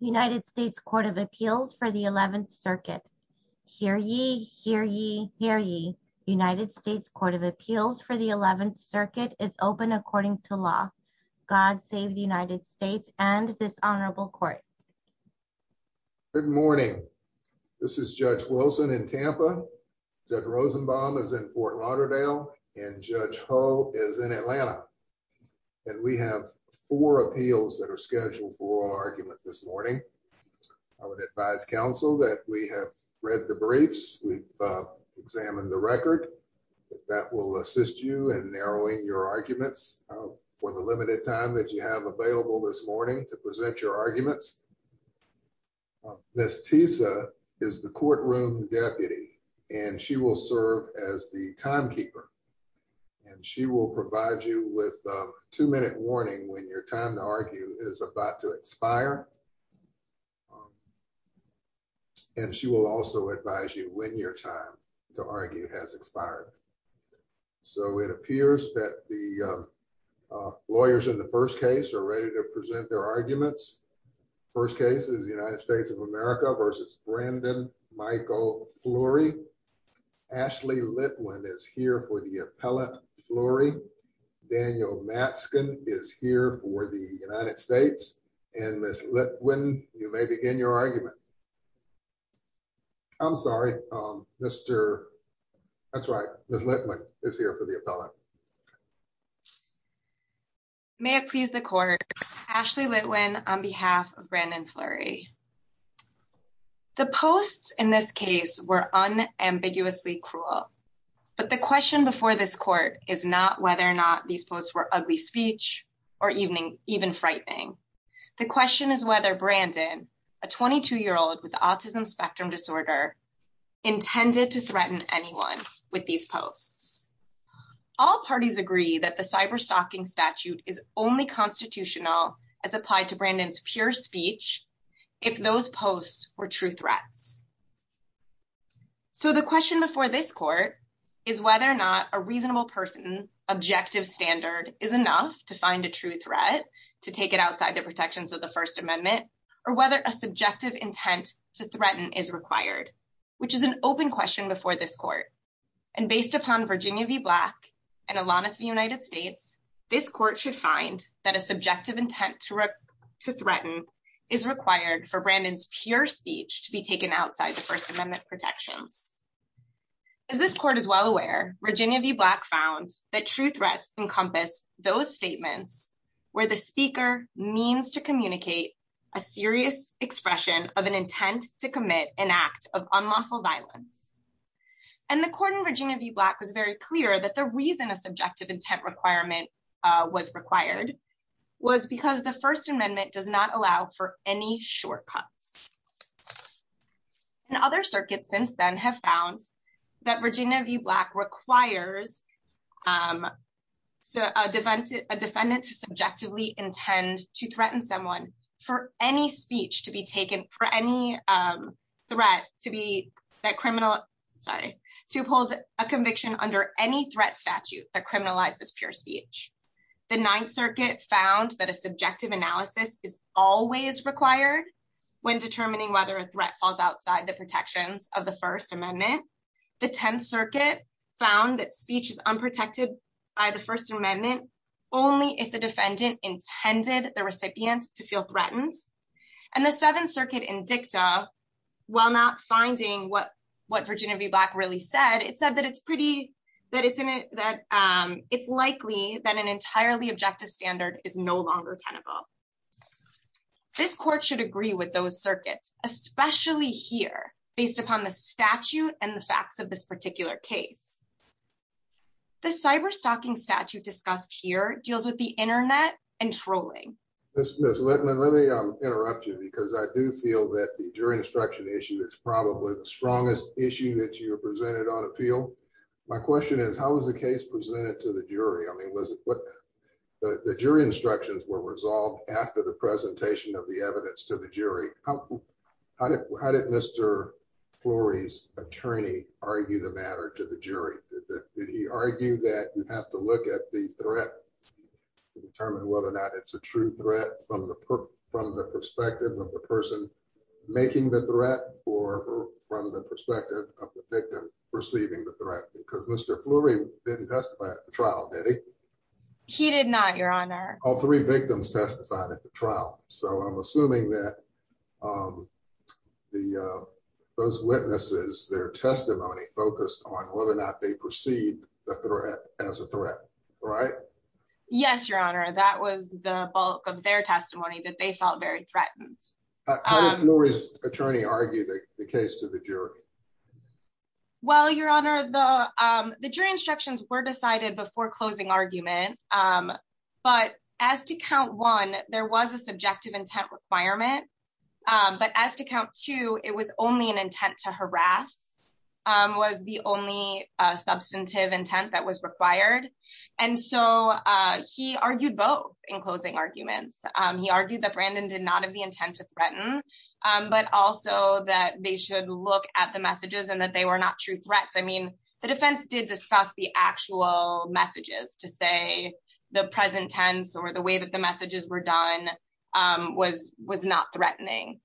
United States Court of Appeals for the 11th Circuit. Hear ye, hear ye, hear ye. United States Court of Appeals for the 11th Circuit is open according to law. God save the United States and this honorable court. Good morning. This is Judge Wilson in Tampa. Judge Rosenbaum is in Fort Lauderdale and Judge Ho is in Atlanta. And we have four appeals that are scheduled for oral arguments this morning. I would advise counsel that we have read the briefs. We've examined the record. That will assist you in narrowing your arguments for the limited time that you have available this morning to present your arguments. Ms. Tisa is the courtroom deputy and she will serve as the timekeeper. And she will provide you with a two-minute warning when your time to argue is about to expire. And she will also advise you when your time to argue has expired. So it appears that the lawyers in the first case are ready to present their arguments. First case is the United States of America versus Brandon Michael Fleury. Ashley Litwin is here for the appellate Fleury. Daniel Mattson is here for the United States. And Ms. Litwin, you may begin your argument. I'm sorry. Mr. That's right. Ms. Litwin is here for the appellate. May it please the court. Ashley Litwin on behalf of Brandon Fleury. The posts in this case were unambiguously cruel. But the question before this court is not whether or not these posts were ugly speech or even frightening. The question is whether Brandon, a 22-year-old with autism spectrum disorder, intended to threaten anyone with these posts. All parties agree that the cyberstalking statute is only constitutional as applied to Brandon's speech if those posts were true threats. So the question before this court is whether or not a reasonable person objective standard is enough to find a true threat to take it outside the protections of the First Amendment or whether a subjective intent to threaten is required, which is an open question before this court. And based upon Virginia v. Black and Alanis v. United is required for Brandon's pure speech to be taken outside the First Amendment protections. As this court is well aware, Virginia v. Black found that true threats encompass those statements where the speaker means to communicate a serious expression of an intent to commit an act of unlawful violence. And the court in Virginia v. Black was very clear that the reason a subjective intent requirement was required was because the First Amendment does not allow for any shortcuts. And other circuits since then have found that Virginia v. Black requires a defendant to subjectively intend to threaten someone for any speech to be taken for any threat to hold a conviction under any threat statute that criminalizes pure speech. The Ninth Circuit found that a subjective analysis is always required when determining whether a threat falls outside the protections of the First Amendment. The Tenth Circuit found that speech is unprotected by the First Amendment only if the defendant intended the recipient to feel threatened. And the Seventh Circuit in dicta, while not finding what what Virginia v. Black really said, it said that it's pretty that it's in it that it's likely that an entirely objective standard is no longer tenable. This court should agree with those circuits, especially here based upon the statute and the facts of this particular case. The cyber stalking statute discussed here deals with the internet and trolling. Ms. Littman, let me interrupt you because I do feel that the jury instruction issue is probably the strongest issue that you have presented on appeal. My question is, how was the case presented to the jury? I mean, was it what the jury instructions were resolved after the presentation of the evidence to the jury? How did Mr. Flory's attorney argue the matter to the jury? Did he argue that you have to look at the threat to determine whether or not it's a true threat from the perspective of the person making the threat or from the perspective of the victim receiving the threat? Because Mr. Flory didn't testify at the trial, did he? He did not, Your Honor. All three victims testified at the trial. So I'm assuming that those witnesses, their testimony focused on whether or not they perceived the threat as a threat, right? Yes, Your Honor. That was the bulk of their testimony that they felt very threatened. How did Flory's attorney argue the case to the jury? Well, Your Honor, the jury instructions were decided before closing argument. But as to count one, there was a subjective intent requirement. But as to count two, it was only an intent to harass, was the only substantive intent that was required. And so he argued both in closing arguments. He argued that Brandon did not have the intent to threaten, but also that they should look at the messages and that they were not true the present tense or the way that the messages were done was not threatening.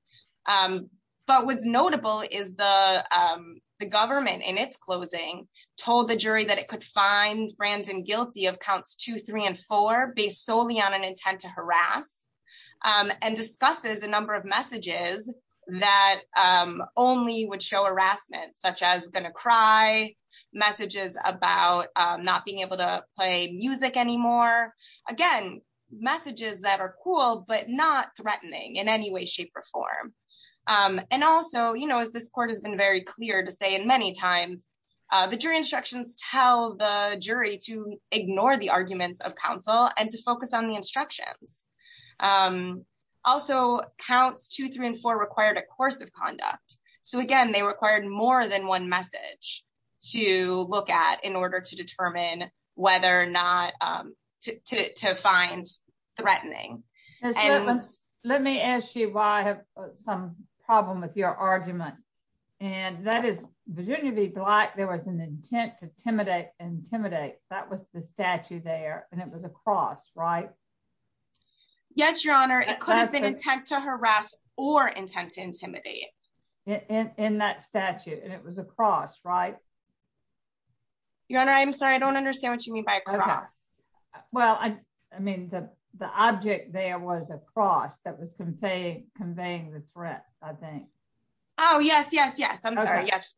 But what's notable is the government in its closing told the jury that it could find Brandon guilty of counts two, three, and four based solely on an intent to harass and discusses a number of messages that only would show harassment, such as gonna cry, messages about not being able to play music anymore. Again, messages that are cool, but not threatening in any way, shape, or form. And also, you know, as this court has been very clear to say in many times, the jury instructions tell the jury to ignore the arguments of counsel and to focus on the instructions. Also, counts two, three, and four required a course of conduct. So again, they required more than one message to look at in order to determine whether or not to find threatening. Let me ask you why I have some problem with your argument. And that is Virginia v. Black, there was an intent to intimidate, that was the statue there, and it was a cross, right? Yes, Your Honor, it could have been intent to harass or intent to intimidate in that statue, and it was a cross, right? Your Honor, I'm sorry, I don't understand what you mean by a cross. Well, I mean, the object there was a cross that was conveying the threat, I think. Oh, yes, yes, yes. I'm sorry. Yes.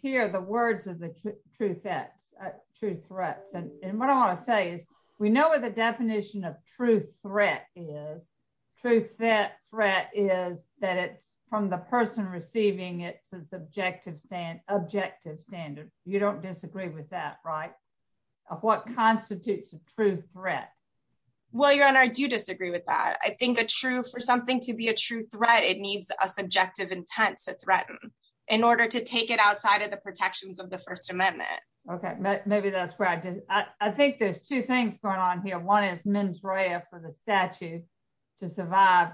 Here are the words of the truth that's true threats. And what I want to say is, we know what the definition of true threat is. True threat is that it's from the person receiving it's objective standard. You don't disagree with that, right? Of what constitutes a true threat? Well, Your Honor, I do disagree with that. I think for something to be a true threat, it needs a subjective intent to threaten in order to take it outside of the protections of the First Amendment. Okay, maybe that's where I did. I think there's two things going on here. One is mens rea for the statute to survive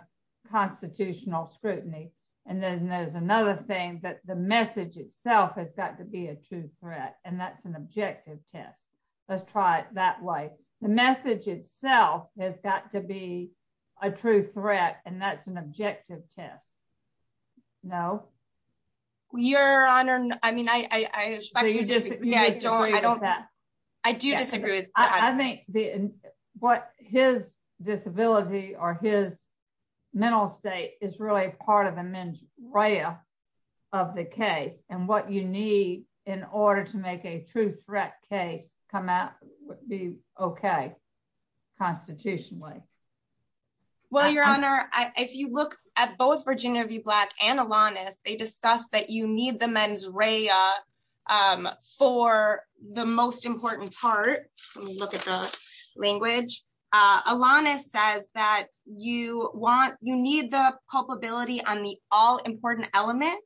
constitutional scrutiny. And then there's another thing that the message itself has got to be a true threat. And that's an objective test. Let's try it that way. The message itself has got to be a true threat. And that's an objective test. No, Your Honor. I mean, I don't I don't. I do disagree. I think the what his disability or his mental state is really part of the mens rea of the case and what you need in order to make a true threat case come out would be okay, constitutionally. Well, Your Honor, if you look at both Virginia v. Black and Alanis, they discussed that you need the mens rea for the most important part. Look at the language. Alanis says that you want you need the culpability on the all important element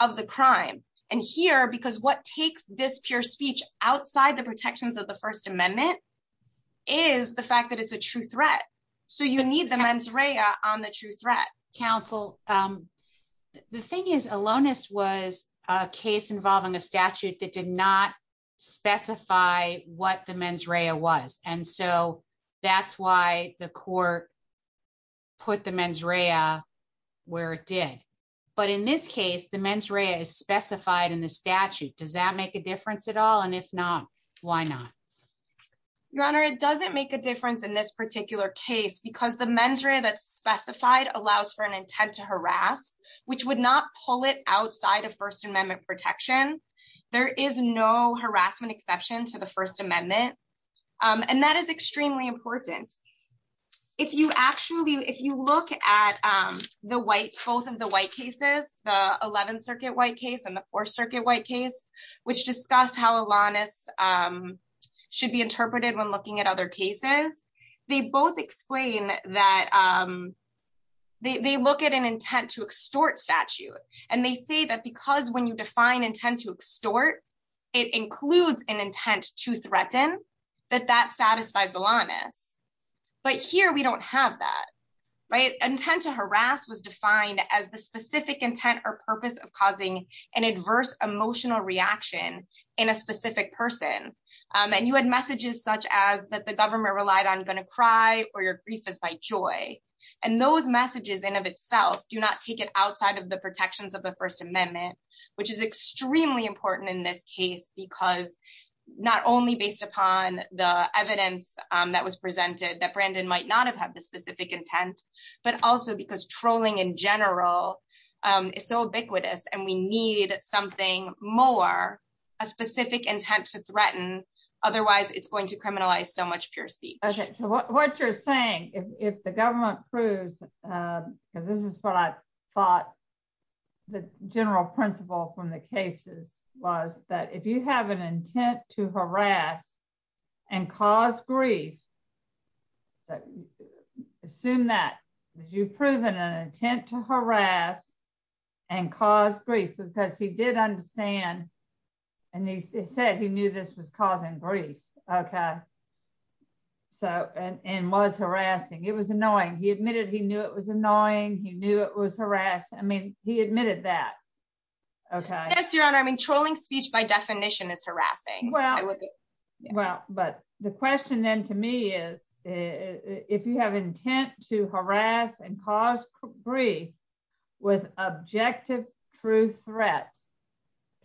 of the crime. And here because what takes this pure speech outside the protections of the First Amendment is the fact that it's a true threat. So you need the mens rea on the true threat, counsel. The thing is, Alanis was a case involving a statute that did not specify what the mens rea was. And so that's why the court put the mens rea where it did. But in this case, the mens rea is specified in the statute. Does that make a difference at all? And if not, why not? Your Honor, it doesn't make a difference in this particular case because the mens rea that's specified allows for an intent to harass, which would not pull it outside of First Amendment protection. There is no harassment exception to the First Amendment. And that is extremely important. If you actually if you look at the white both of the white cases, the 11th Circuit white case and the Fourth Circuit white case, which discussed how Alanis should be interpreted when looking at other cases, they both explain that they look at an intent to extort statute. And they say that because when you define intent to extort, it includes an intent to threaten, that that satisfies Alanis. But here we don't have that. Intent to harass was defined as the specific intent or purpose of causing an adverse emotional reaction in a specific person. And you had messages such as that the government relied on going to cry or your grief is by joy. And those messages in of itself do not take it outside of the protections of the First Amendment, which is extremely important in this case because not only based upon the evidence that was presented that Brandon might not have had specific intent, but also because trolling in general is so ubiquitous, and we need something more, a specific intent to threaten. Otherwise, it's going to criminalize so much pure speech. Okay, so what you're saying, if the government proves, because this is what I thought, the general principle from the cases was that if you have an intent to harass and cause grief, so assume that you've proven an intent to harass and cause grief because he did understand and he said he knew this was causing grief. Okay. So and was harassing. It was annoying. He admitted he knew it was annoying. He knew it was harassed. I mean, he admitted that. Okay. Yes, Your Honor. I mean, trolling speech by definition is harassing. Well, well, but the question then to me is, if you have intent to harass and cause grief, with objective true threats,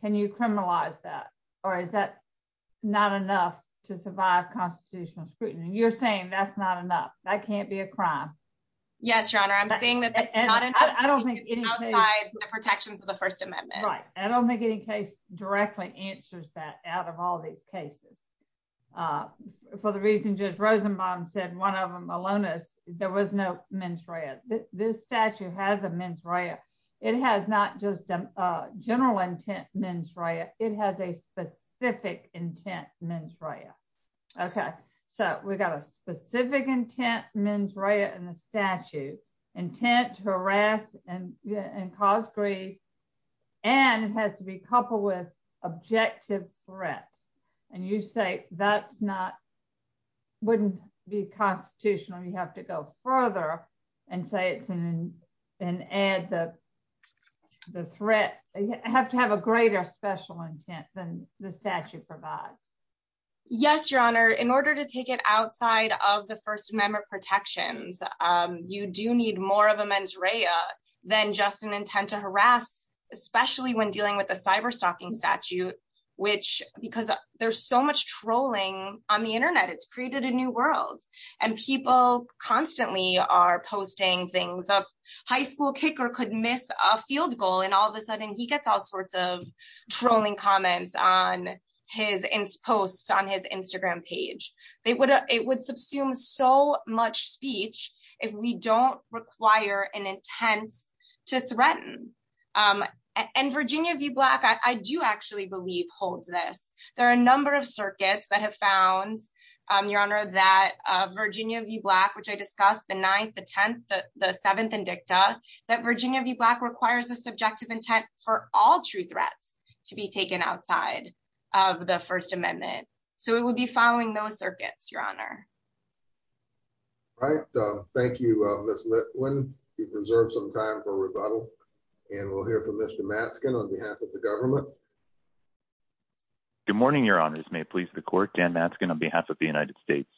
can you criminalize that? Or is that not enough to survive constitutional scrutiny? And you're saying that's not enough. That can't be a crime. Yes, Your Honor. I'm saying that. I don't think it's outside the protections of the First Amendment. Right. I don't think any case directly answers that out of all these cases. For the reason Judge Rosenbaum said one of them alone is there was no mens rea. This statute has a mens rea. It has not just a general intent mens rea. It has a specific intent mens rea. Okay. So we've got a specific intent mens rea in the statute, intent to harass and cause grief. And it has to be coupled with objective threats. And you say that's not wouldn't be constitutional, you have to go further and say it's an ad the threat, you have to have a greater special intent than the statute provides. Yes, Your Honor, in order to take it outside of the First Amendment protections, you do need more of a mens rea than just an intent to harass, especially when dealing with the cyber stalking statute, which because there's so much trolling on the internet, it's created a new world. And people constantly are posting things of high school kicker could miss a field goal. And all sudden he gets all sorts of trolling comments on his posts on his Instagram page, they would, it would subsume so much speech, if we don't require an intent to threaten. And Virginia v. Black, I do actually believe holds this, there are a number of circuits that have found, Your Honor, that Virginia v. Black, which I discussed the ninth, the 10th, the seventh that Virginia v. Black requires a subjective intent for all true threats to be taken outside of the First Amendment. So it would be following those circuits, Your Honor. All right. Thank you, Ms. Litwin. You've reserved some time for rebuttal. And we'll hear from Mr. Matzkin on behalf of the government. Good morning, Your Honors, may please the court Dan Matzkin on behalf of the United States.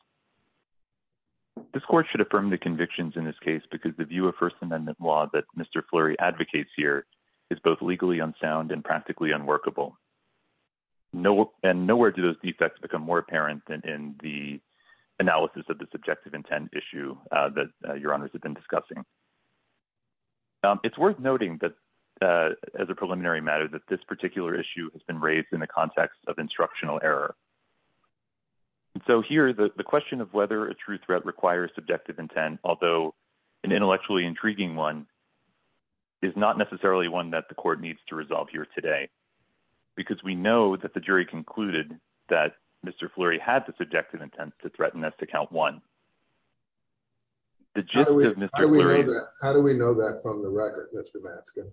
This court should affirm the convictions in this case, because the view of First Amendment law that Mr. Flurry advocates here is both legally unsound and practically unworkable. No, and nowhere do those defects become more apparent than in the analysis of the subjective intent issue that Your Honors have been discussing. It's worth noting that, as a preliminary matter, that this particular issue has been raised in the context of instructional error. And so here, the question of whether a true threat requires subjective intent, although an intellectually intriguing one, is not necessarily one that the court needs to resolve here today. Because we know that the jury concluded that Mr. Flurry had the subjective intent to threaten us to count one. How do we know that from the record, Mr. Matzkin?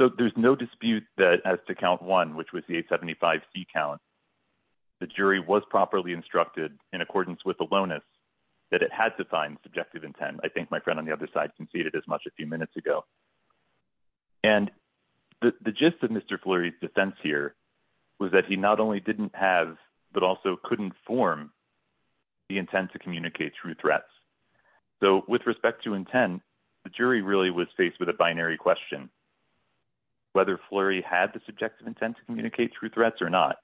So there's no dispute that as to count one, which was the 875-C count, the jury was properly instructed in accordance with the lonus that it had to find subjective intent. I think my friend on the other side conceded as much a few minutes ago. And the gist of Mr. Flurry's defense here was that he not only didn't have, but also couldn't form the intent to communicate true threats. So with respect to intent, the jury really was faced with a binary question, whether Flurry had the subjective intent to communicate true threats or not.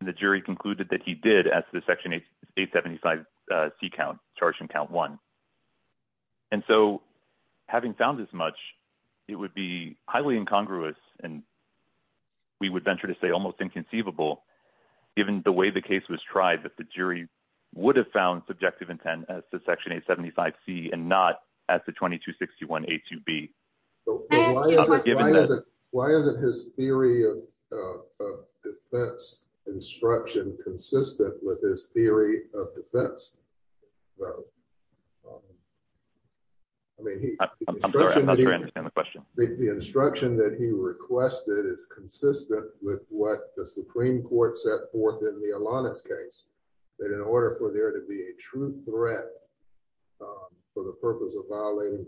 And the jury concluded that he did, as the section 875-C count charged him count one. And so having found as much, it would be highly incongruous, and we would venture to say almost inconceivable, given the way the case was tried, that the jury would have found subjective intent as to section 875-C and not as to 2261-A2B. Why isn't his theory of defense instruction consistent with his theory of defense? I'm sorry, I'm not sure I understand the question. The instruction that he requested is consistent with what the Supreme Court set forth in the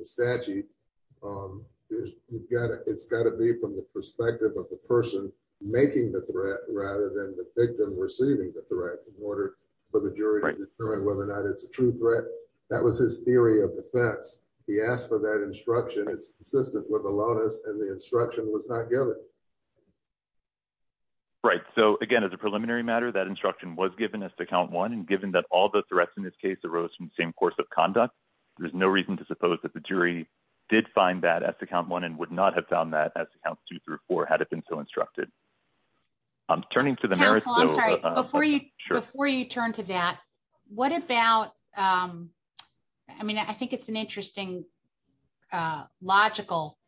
statute. It's got to be from the perspective of the person making the threat rather than the victim receiving the threat in order for the jury to determine whether or not it's a true threat. That was his theory of defense. He asked for that instruction. It's consistent with Alonis, and the instruction was not given. Right. So again, as a preliminary matter, that instruction was given as to count one. And given that all the threats in this case arose from the same course of conduct, there's no reason to suppose that the jury did find that as to count one and would not have found that as to count two through four had it been so instructed. I'm turning to the merits. Counsel, I'm sorry, before you turn to that, what about, I mean, I think it's an interesting logical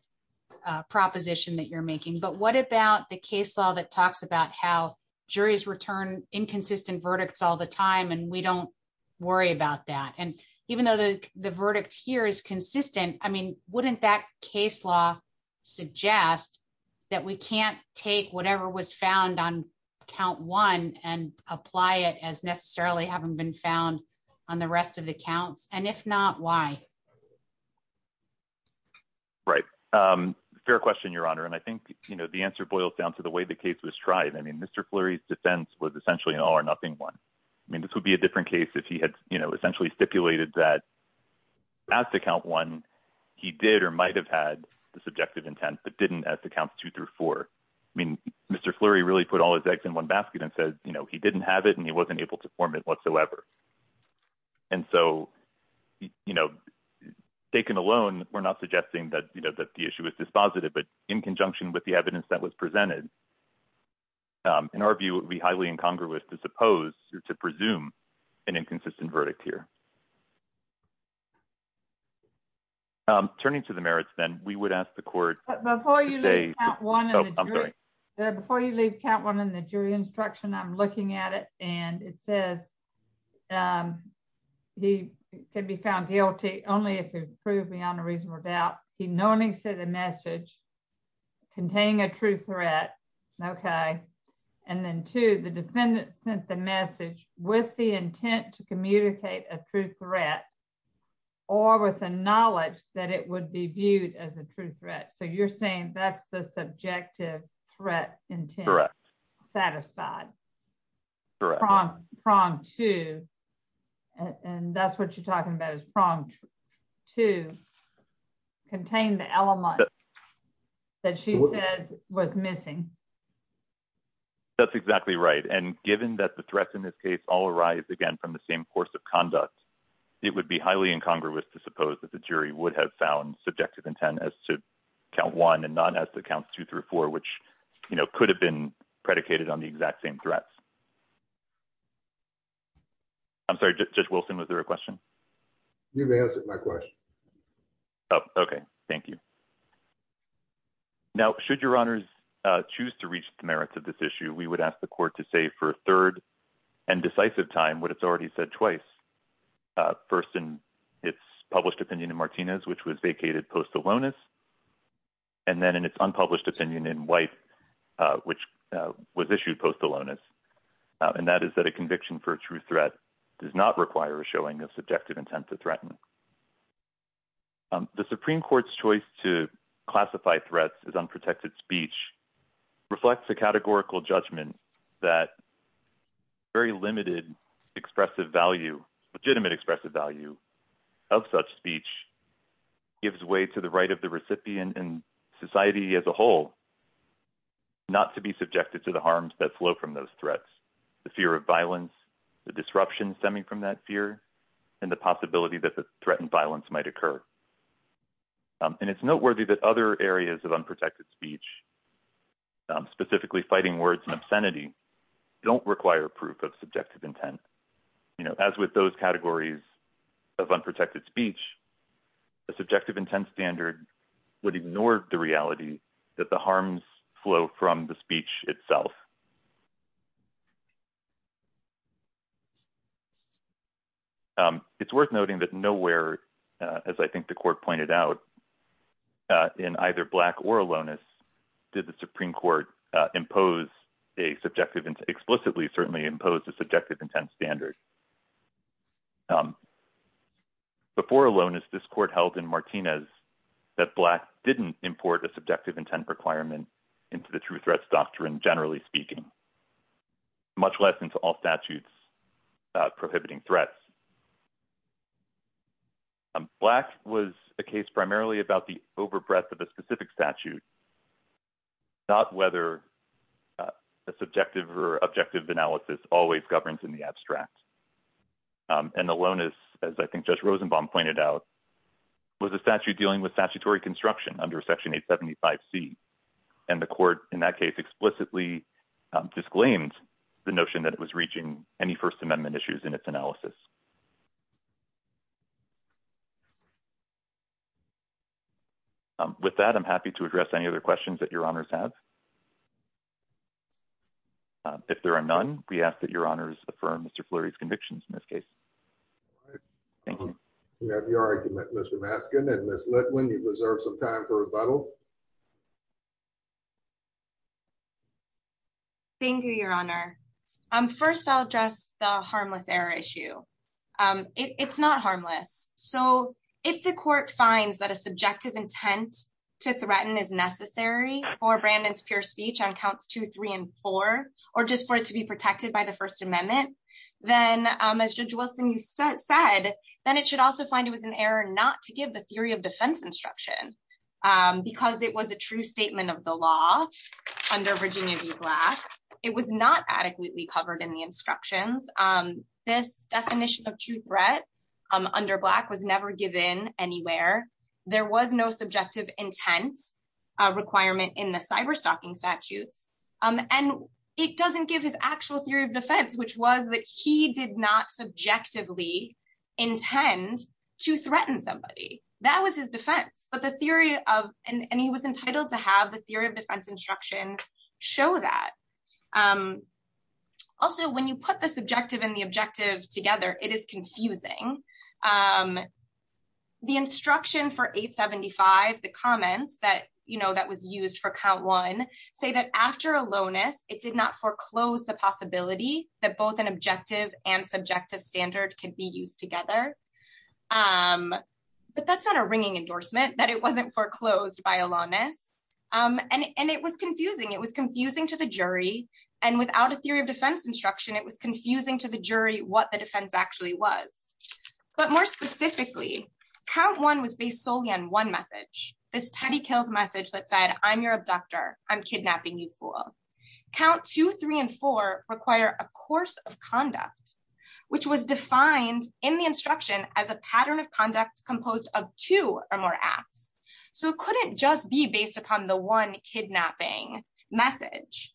proposition that you're making, but what about the case law that talks about how and even though the verdict here is consistent, I mean, wouldn't that case law suggest that we can't take whatever was found on count one and apply it as necessarily having been found on the rest of the counts? And if not, why? Right. Fair question, Your Honor. And I think the answer boils down to the way the case was tried. I mean, Mr. Fleury's defense was essentially an all or nothing one. I mean, this would be a different case if he had essentially stipulated that as to count one, he did or might've had the subjective intent, but didn't as to count two through four. I mean, Mr. Fleury really put all his eggs in one basket and said, he didn't have it and he wasn't able to form it whatsoever. And so, taken alone, we're not suggesting that the issue is dispositive, but in conjunction with the evidence that was presented, in our view, it would be highly incongruous to suppose or to presume an inconsistent verdict here. Turning to the merits then, we would ask the court- But before you leave count one in the jury instruction, I'm looking at it and it says, he can be found guilty only if he proved beyond a reasonable doubt. He knowingly said a message containing a true threat. Okay. And then two, the defendant sent the message with the intent to communicate a true threat or with a knowledge that it would be viewed as a true threat. So you're saying that's the subjective threat intent satisfied. Prong two, and that's what you're saying? That she said was missing. That's exactly right. And given that the threats in this case all arise again from the same course of conduct, it would be highly incongruous to suppose that the jury would have found subjective intent as to count one and not as to count two through four, which could have been predicated on the exact same threats. I'm sorry, Judge Wilson, was there a question? You've answered my question. Oh, okay. Thank you. Now, should your honors choose to reach the merits of this issue, we would ask the court to say for a third and decisive time what it's already said twice. First, in its published opinion in Martinez, which was vacated post aloneness, and then in its unpublished opinion in White, which was issued post aloneness. And that is that a conviction for a true threat does not require a showing of subjective intent to threaten. The Supreme Court's choice to classify threats as unprotected speech reflects a categorical judgment that very limited legitimate expressive value of such speech gives way to the right of the recipient and society as a whole not to be subjected to the harms that flow from those threats, the fear of violence, the disruption stemming from that fear, and the possibility that the violence might occur. And it's noteworthy that other areas of unprotected speech, specifically fighting words and obscenity, don't require proof of subjective intent. You know, as with those categories of unprotected speech, the subjective intent standard would ignore the reality that the harms flow from the speech itself. It's worth noting that nowhere, as I think the court pointed out, in either Black or aloneness, did the Supreme Court impose a subjective, explicitly certainly imposed a subjective intent standard. Before aloneness, this court held in Martinez that Black didn't import a subjective intent requirement into the true threats doctrine, generally speaking, much less into all statutes prohibiting threats. Black was a case primarily about the overbreath of a specific statute, not whether a subjective or objective analysis always governs in the abstract. And aloneness, as I think Judge Rosenbaum pointed out, was a statute dealing with statutory disclaims the notion that it was reaching any First Amendment issues in its analysis. With that, I'm happy to address any other questions that your honors have. If there are none, we ask that your honors affirm Mr. Flurry's convictions in this case. We have your argument, Mr. Maskin and Ms. Litwin, you reserve some time for rebuttal. Thank you, your honor. First, I'll address the harmless error issue. It's not harmless. So if the court finds that a subjective intent to threaten is necessary for Brandon's pure speech on counts two, three, and four, or just for it to be protected by the First Amendment, then as Judge Wilson, you said, then it should also find it was an error not to give the theory of defense instruction. Because it was a true statement of the law under Virginia v. Black, it was not adequately covered in the instructions. This definition of true threat under Black was never given anywhere. There was no subjective intent requirement in the cyberstalking statutes. And it doesn't give his actual theory of defense, which was that he did not subjectively intend to threaten somebody. That was his defense. And he was entitled to have the theory of defense instruction show that. Also, when you put the subjective and the objective together, it is confusing. The instruction for 875, the comments that was used for count one, say that after aloneness, it did not foreclose the possibility that both an objective and subjective standard can be used together. But that's not a ringing endorsement that it wasn't foreclosed by aloneness. And it was confusing, it was confusing to the jury. And without a theory of defense instruction, it was confusing to the jury what the defense actually was. But more specifically, count one was based solely on one message, this Teddy Kills message that said, I'm your abductor, I'm kidnapping you fool. Count two, three, and four require a course of conduct, which was defined in the instruction as a pattern of conduct composed of two or more acts. So it couldn't just be based upon the one kidnapping message.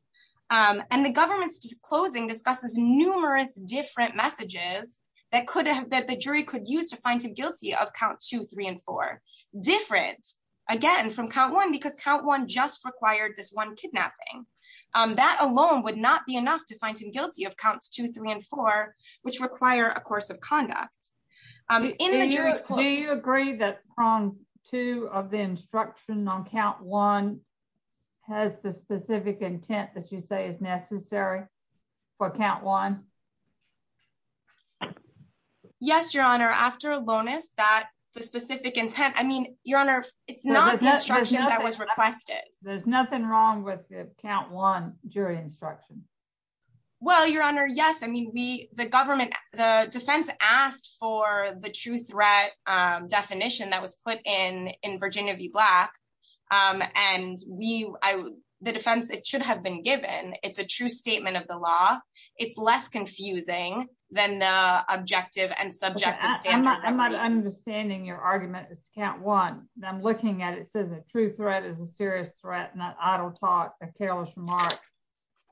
And the government's disclosing discusses numerous different messages that could have that the jury could use to find him guilty of count two, three, and four. Different, again, from count one, because count one just required this one kidnapping. That alone would not be enough to find him guilty of counts two, three, and four, which require a course of conduct. In the jury's court- Do you agree that prong two of the instruction on count one has the specific intent that you say is necessary for count one? Yes, Your Honor, after Lonis, that the specific intent, I mean, Your Honor, it's not the instruction that was requested. There's nothing wrong with count one jury instruction. Well, Your Honor, yes, I mean, we, the government, the defense asked for the true threat definition that was put in in Virginia v. Black. And we, the defense, it should have been given, it's a true statement of the law. It's less confusing than the objective and subjective standard. I'm not understanding your argument is count one. I'm looking at it says a true threat is a serious threat, not idle talk, a careless remark,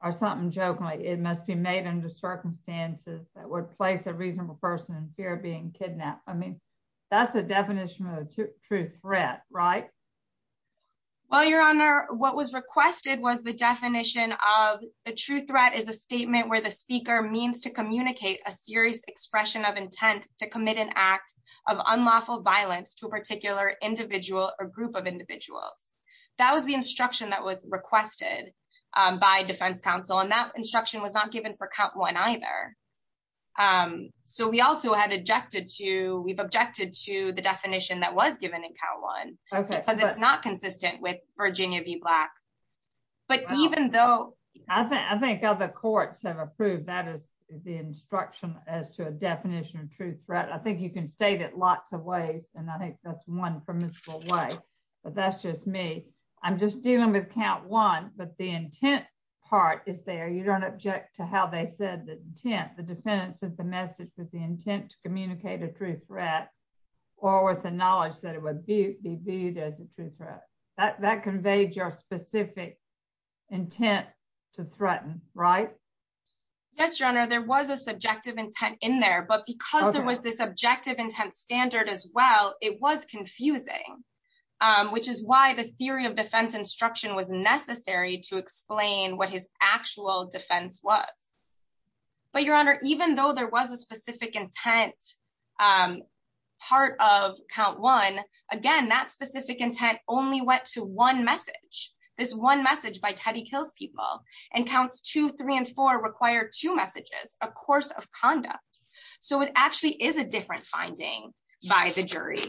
or something jokingly. It must be made under circumstances that would place a reasonable person in fear of being kidnapped. I mean, that's the definition of a true threat, right? Well, Your Honor, what was requested was the is a statement where the speaker means to communicate a serious expression of intent to commit an act of unlawful violence to a particular individual or group of individuals. That was the instruction that was requested by defense counsel. And that instruction was not given for count one either. So we also had objected to, we've objected to the definition that was given in count one, because it's not consistent with Virginia v. Black. But even though I think I think other courts have approved that as the instruction as to a definition of true threat, I think you can state it lots of ways. And I think that's one permissible way. But that's just me. I'm just dealing with count one. But the intent part is there you don't object to how they said the intent, the defendants of the message with the intent to communicate a true threat, or with the knowledge that it would be viewed as a true threat that conveyed your specific intent to threaten, right? Yes, Your Honor, there was a subjective intent in there. But because there was this objective intent standard as well, it was confusing, which is why the theory of defense instruction was necessary to explain what his actual defense was. But Your Honor, even though there was a specific intent, part of count one, again, that specific intent only went to one message by Teddy kills people, and counts two, three and four require two messages, a course of conduct. So it actually is a different finding by the jury.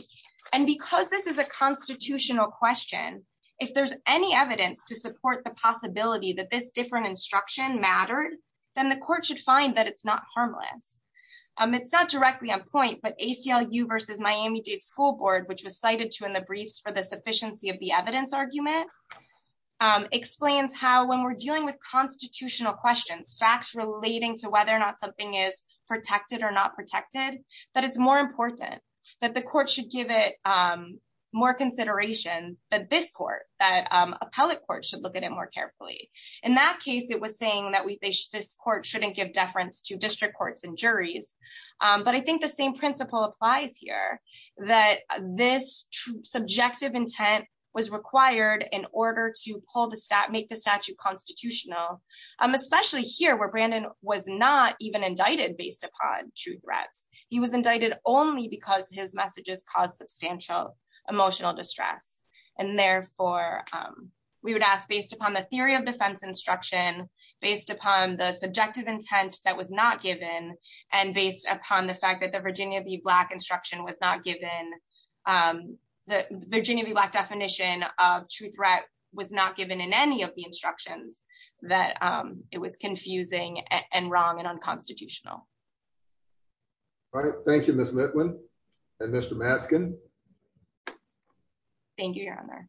And because this is a constitutional question, if there's any evidence to support the possibility that this different instruction mattered, then the court should find that it's not harmless. It's not directly on point, but ACLU versus Miami Dade School Board, which was cited to in the briefs for the sufficiency of the evidence argument, explains how when we're dealing with constitutional questions, facts relating to whether or not something is protected or not protected, that it's more important that the court should give it more consideration that this court that appellate court should look at it more carefully. In that case, it was saying that we think this court shouldn't give deference to district courts and juries. But I think the same principle applies here, that this subjective intent was required in order to pull the stat make the statute constitutional, especially here where Brandon was not even indicted based upon true threats. He was indicted only because his messages cause substantial emotional distress. And therefore, we would ask based upon the theory of defense instruction, based upon the subjective intent that was not given, and based upon the fact that the Virginia v. Black instruction was not given, the Virginia v. Black definition of true threat was not given in any of the instructions, that it was confusing and wrong and unconstitutional. All right. Thank you, Ms. Litwin and Mr. Matzkin. Thank you, Your Honor.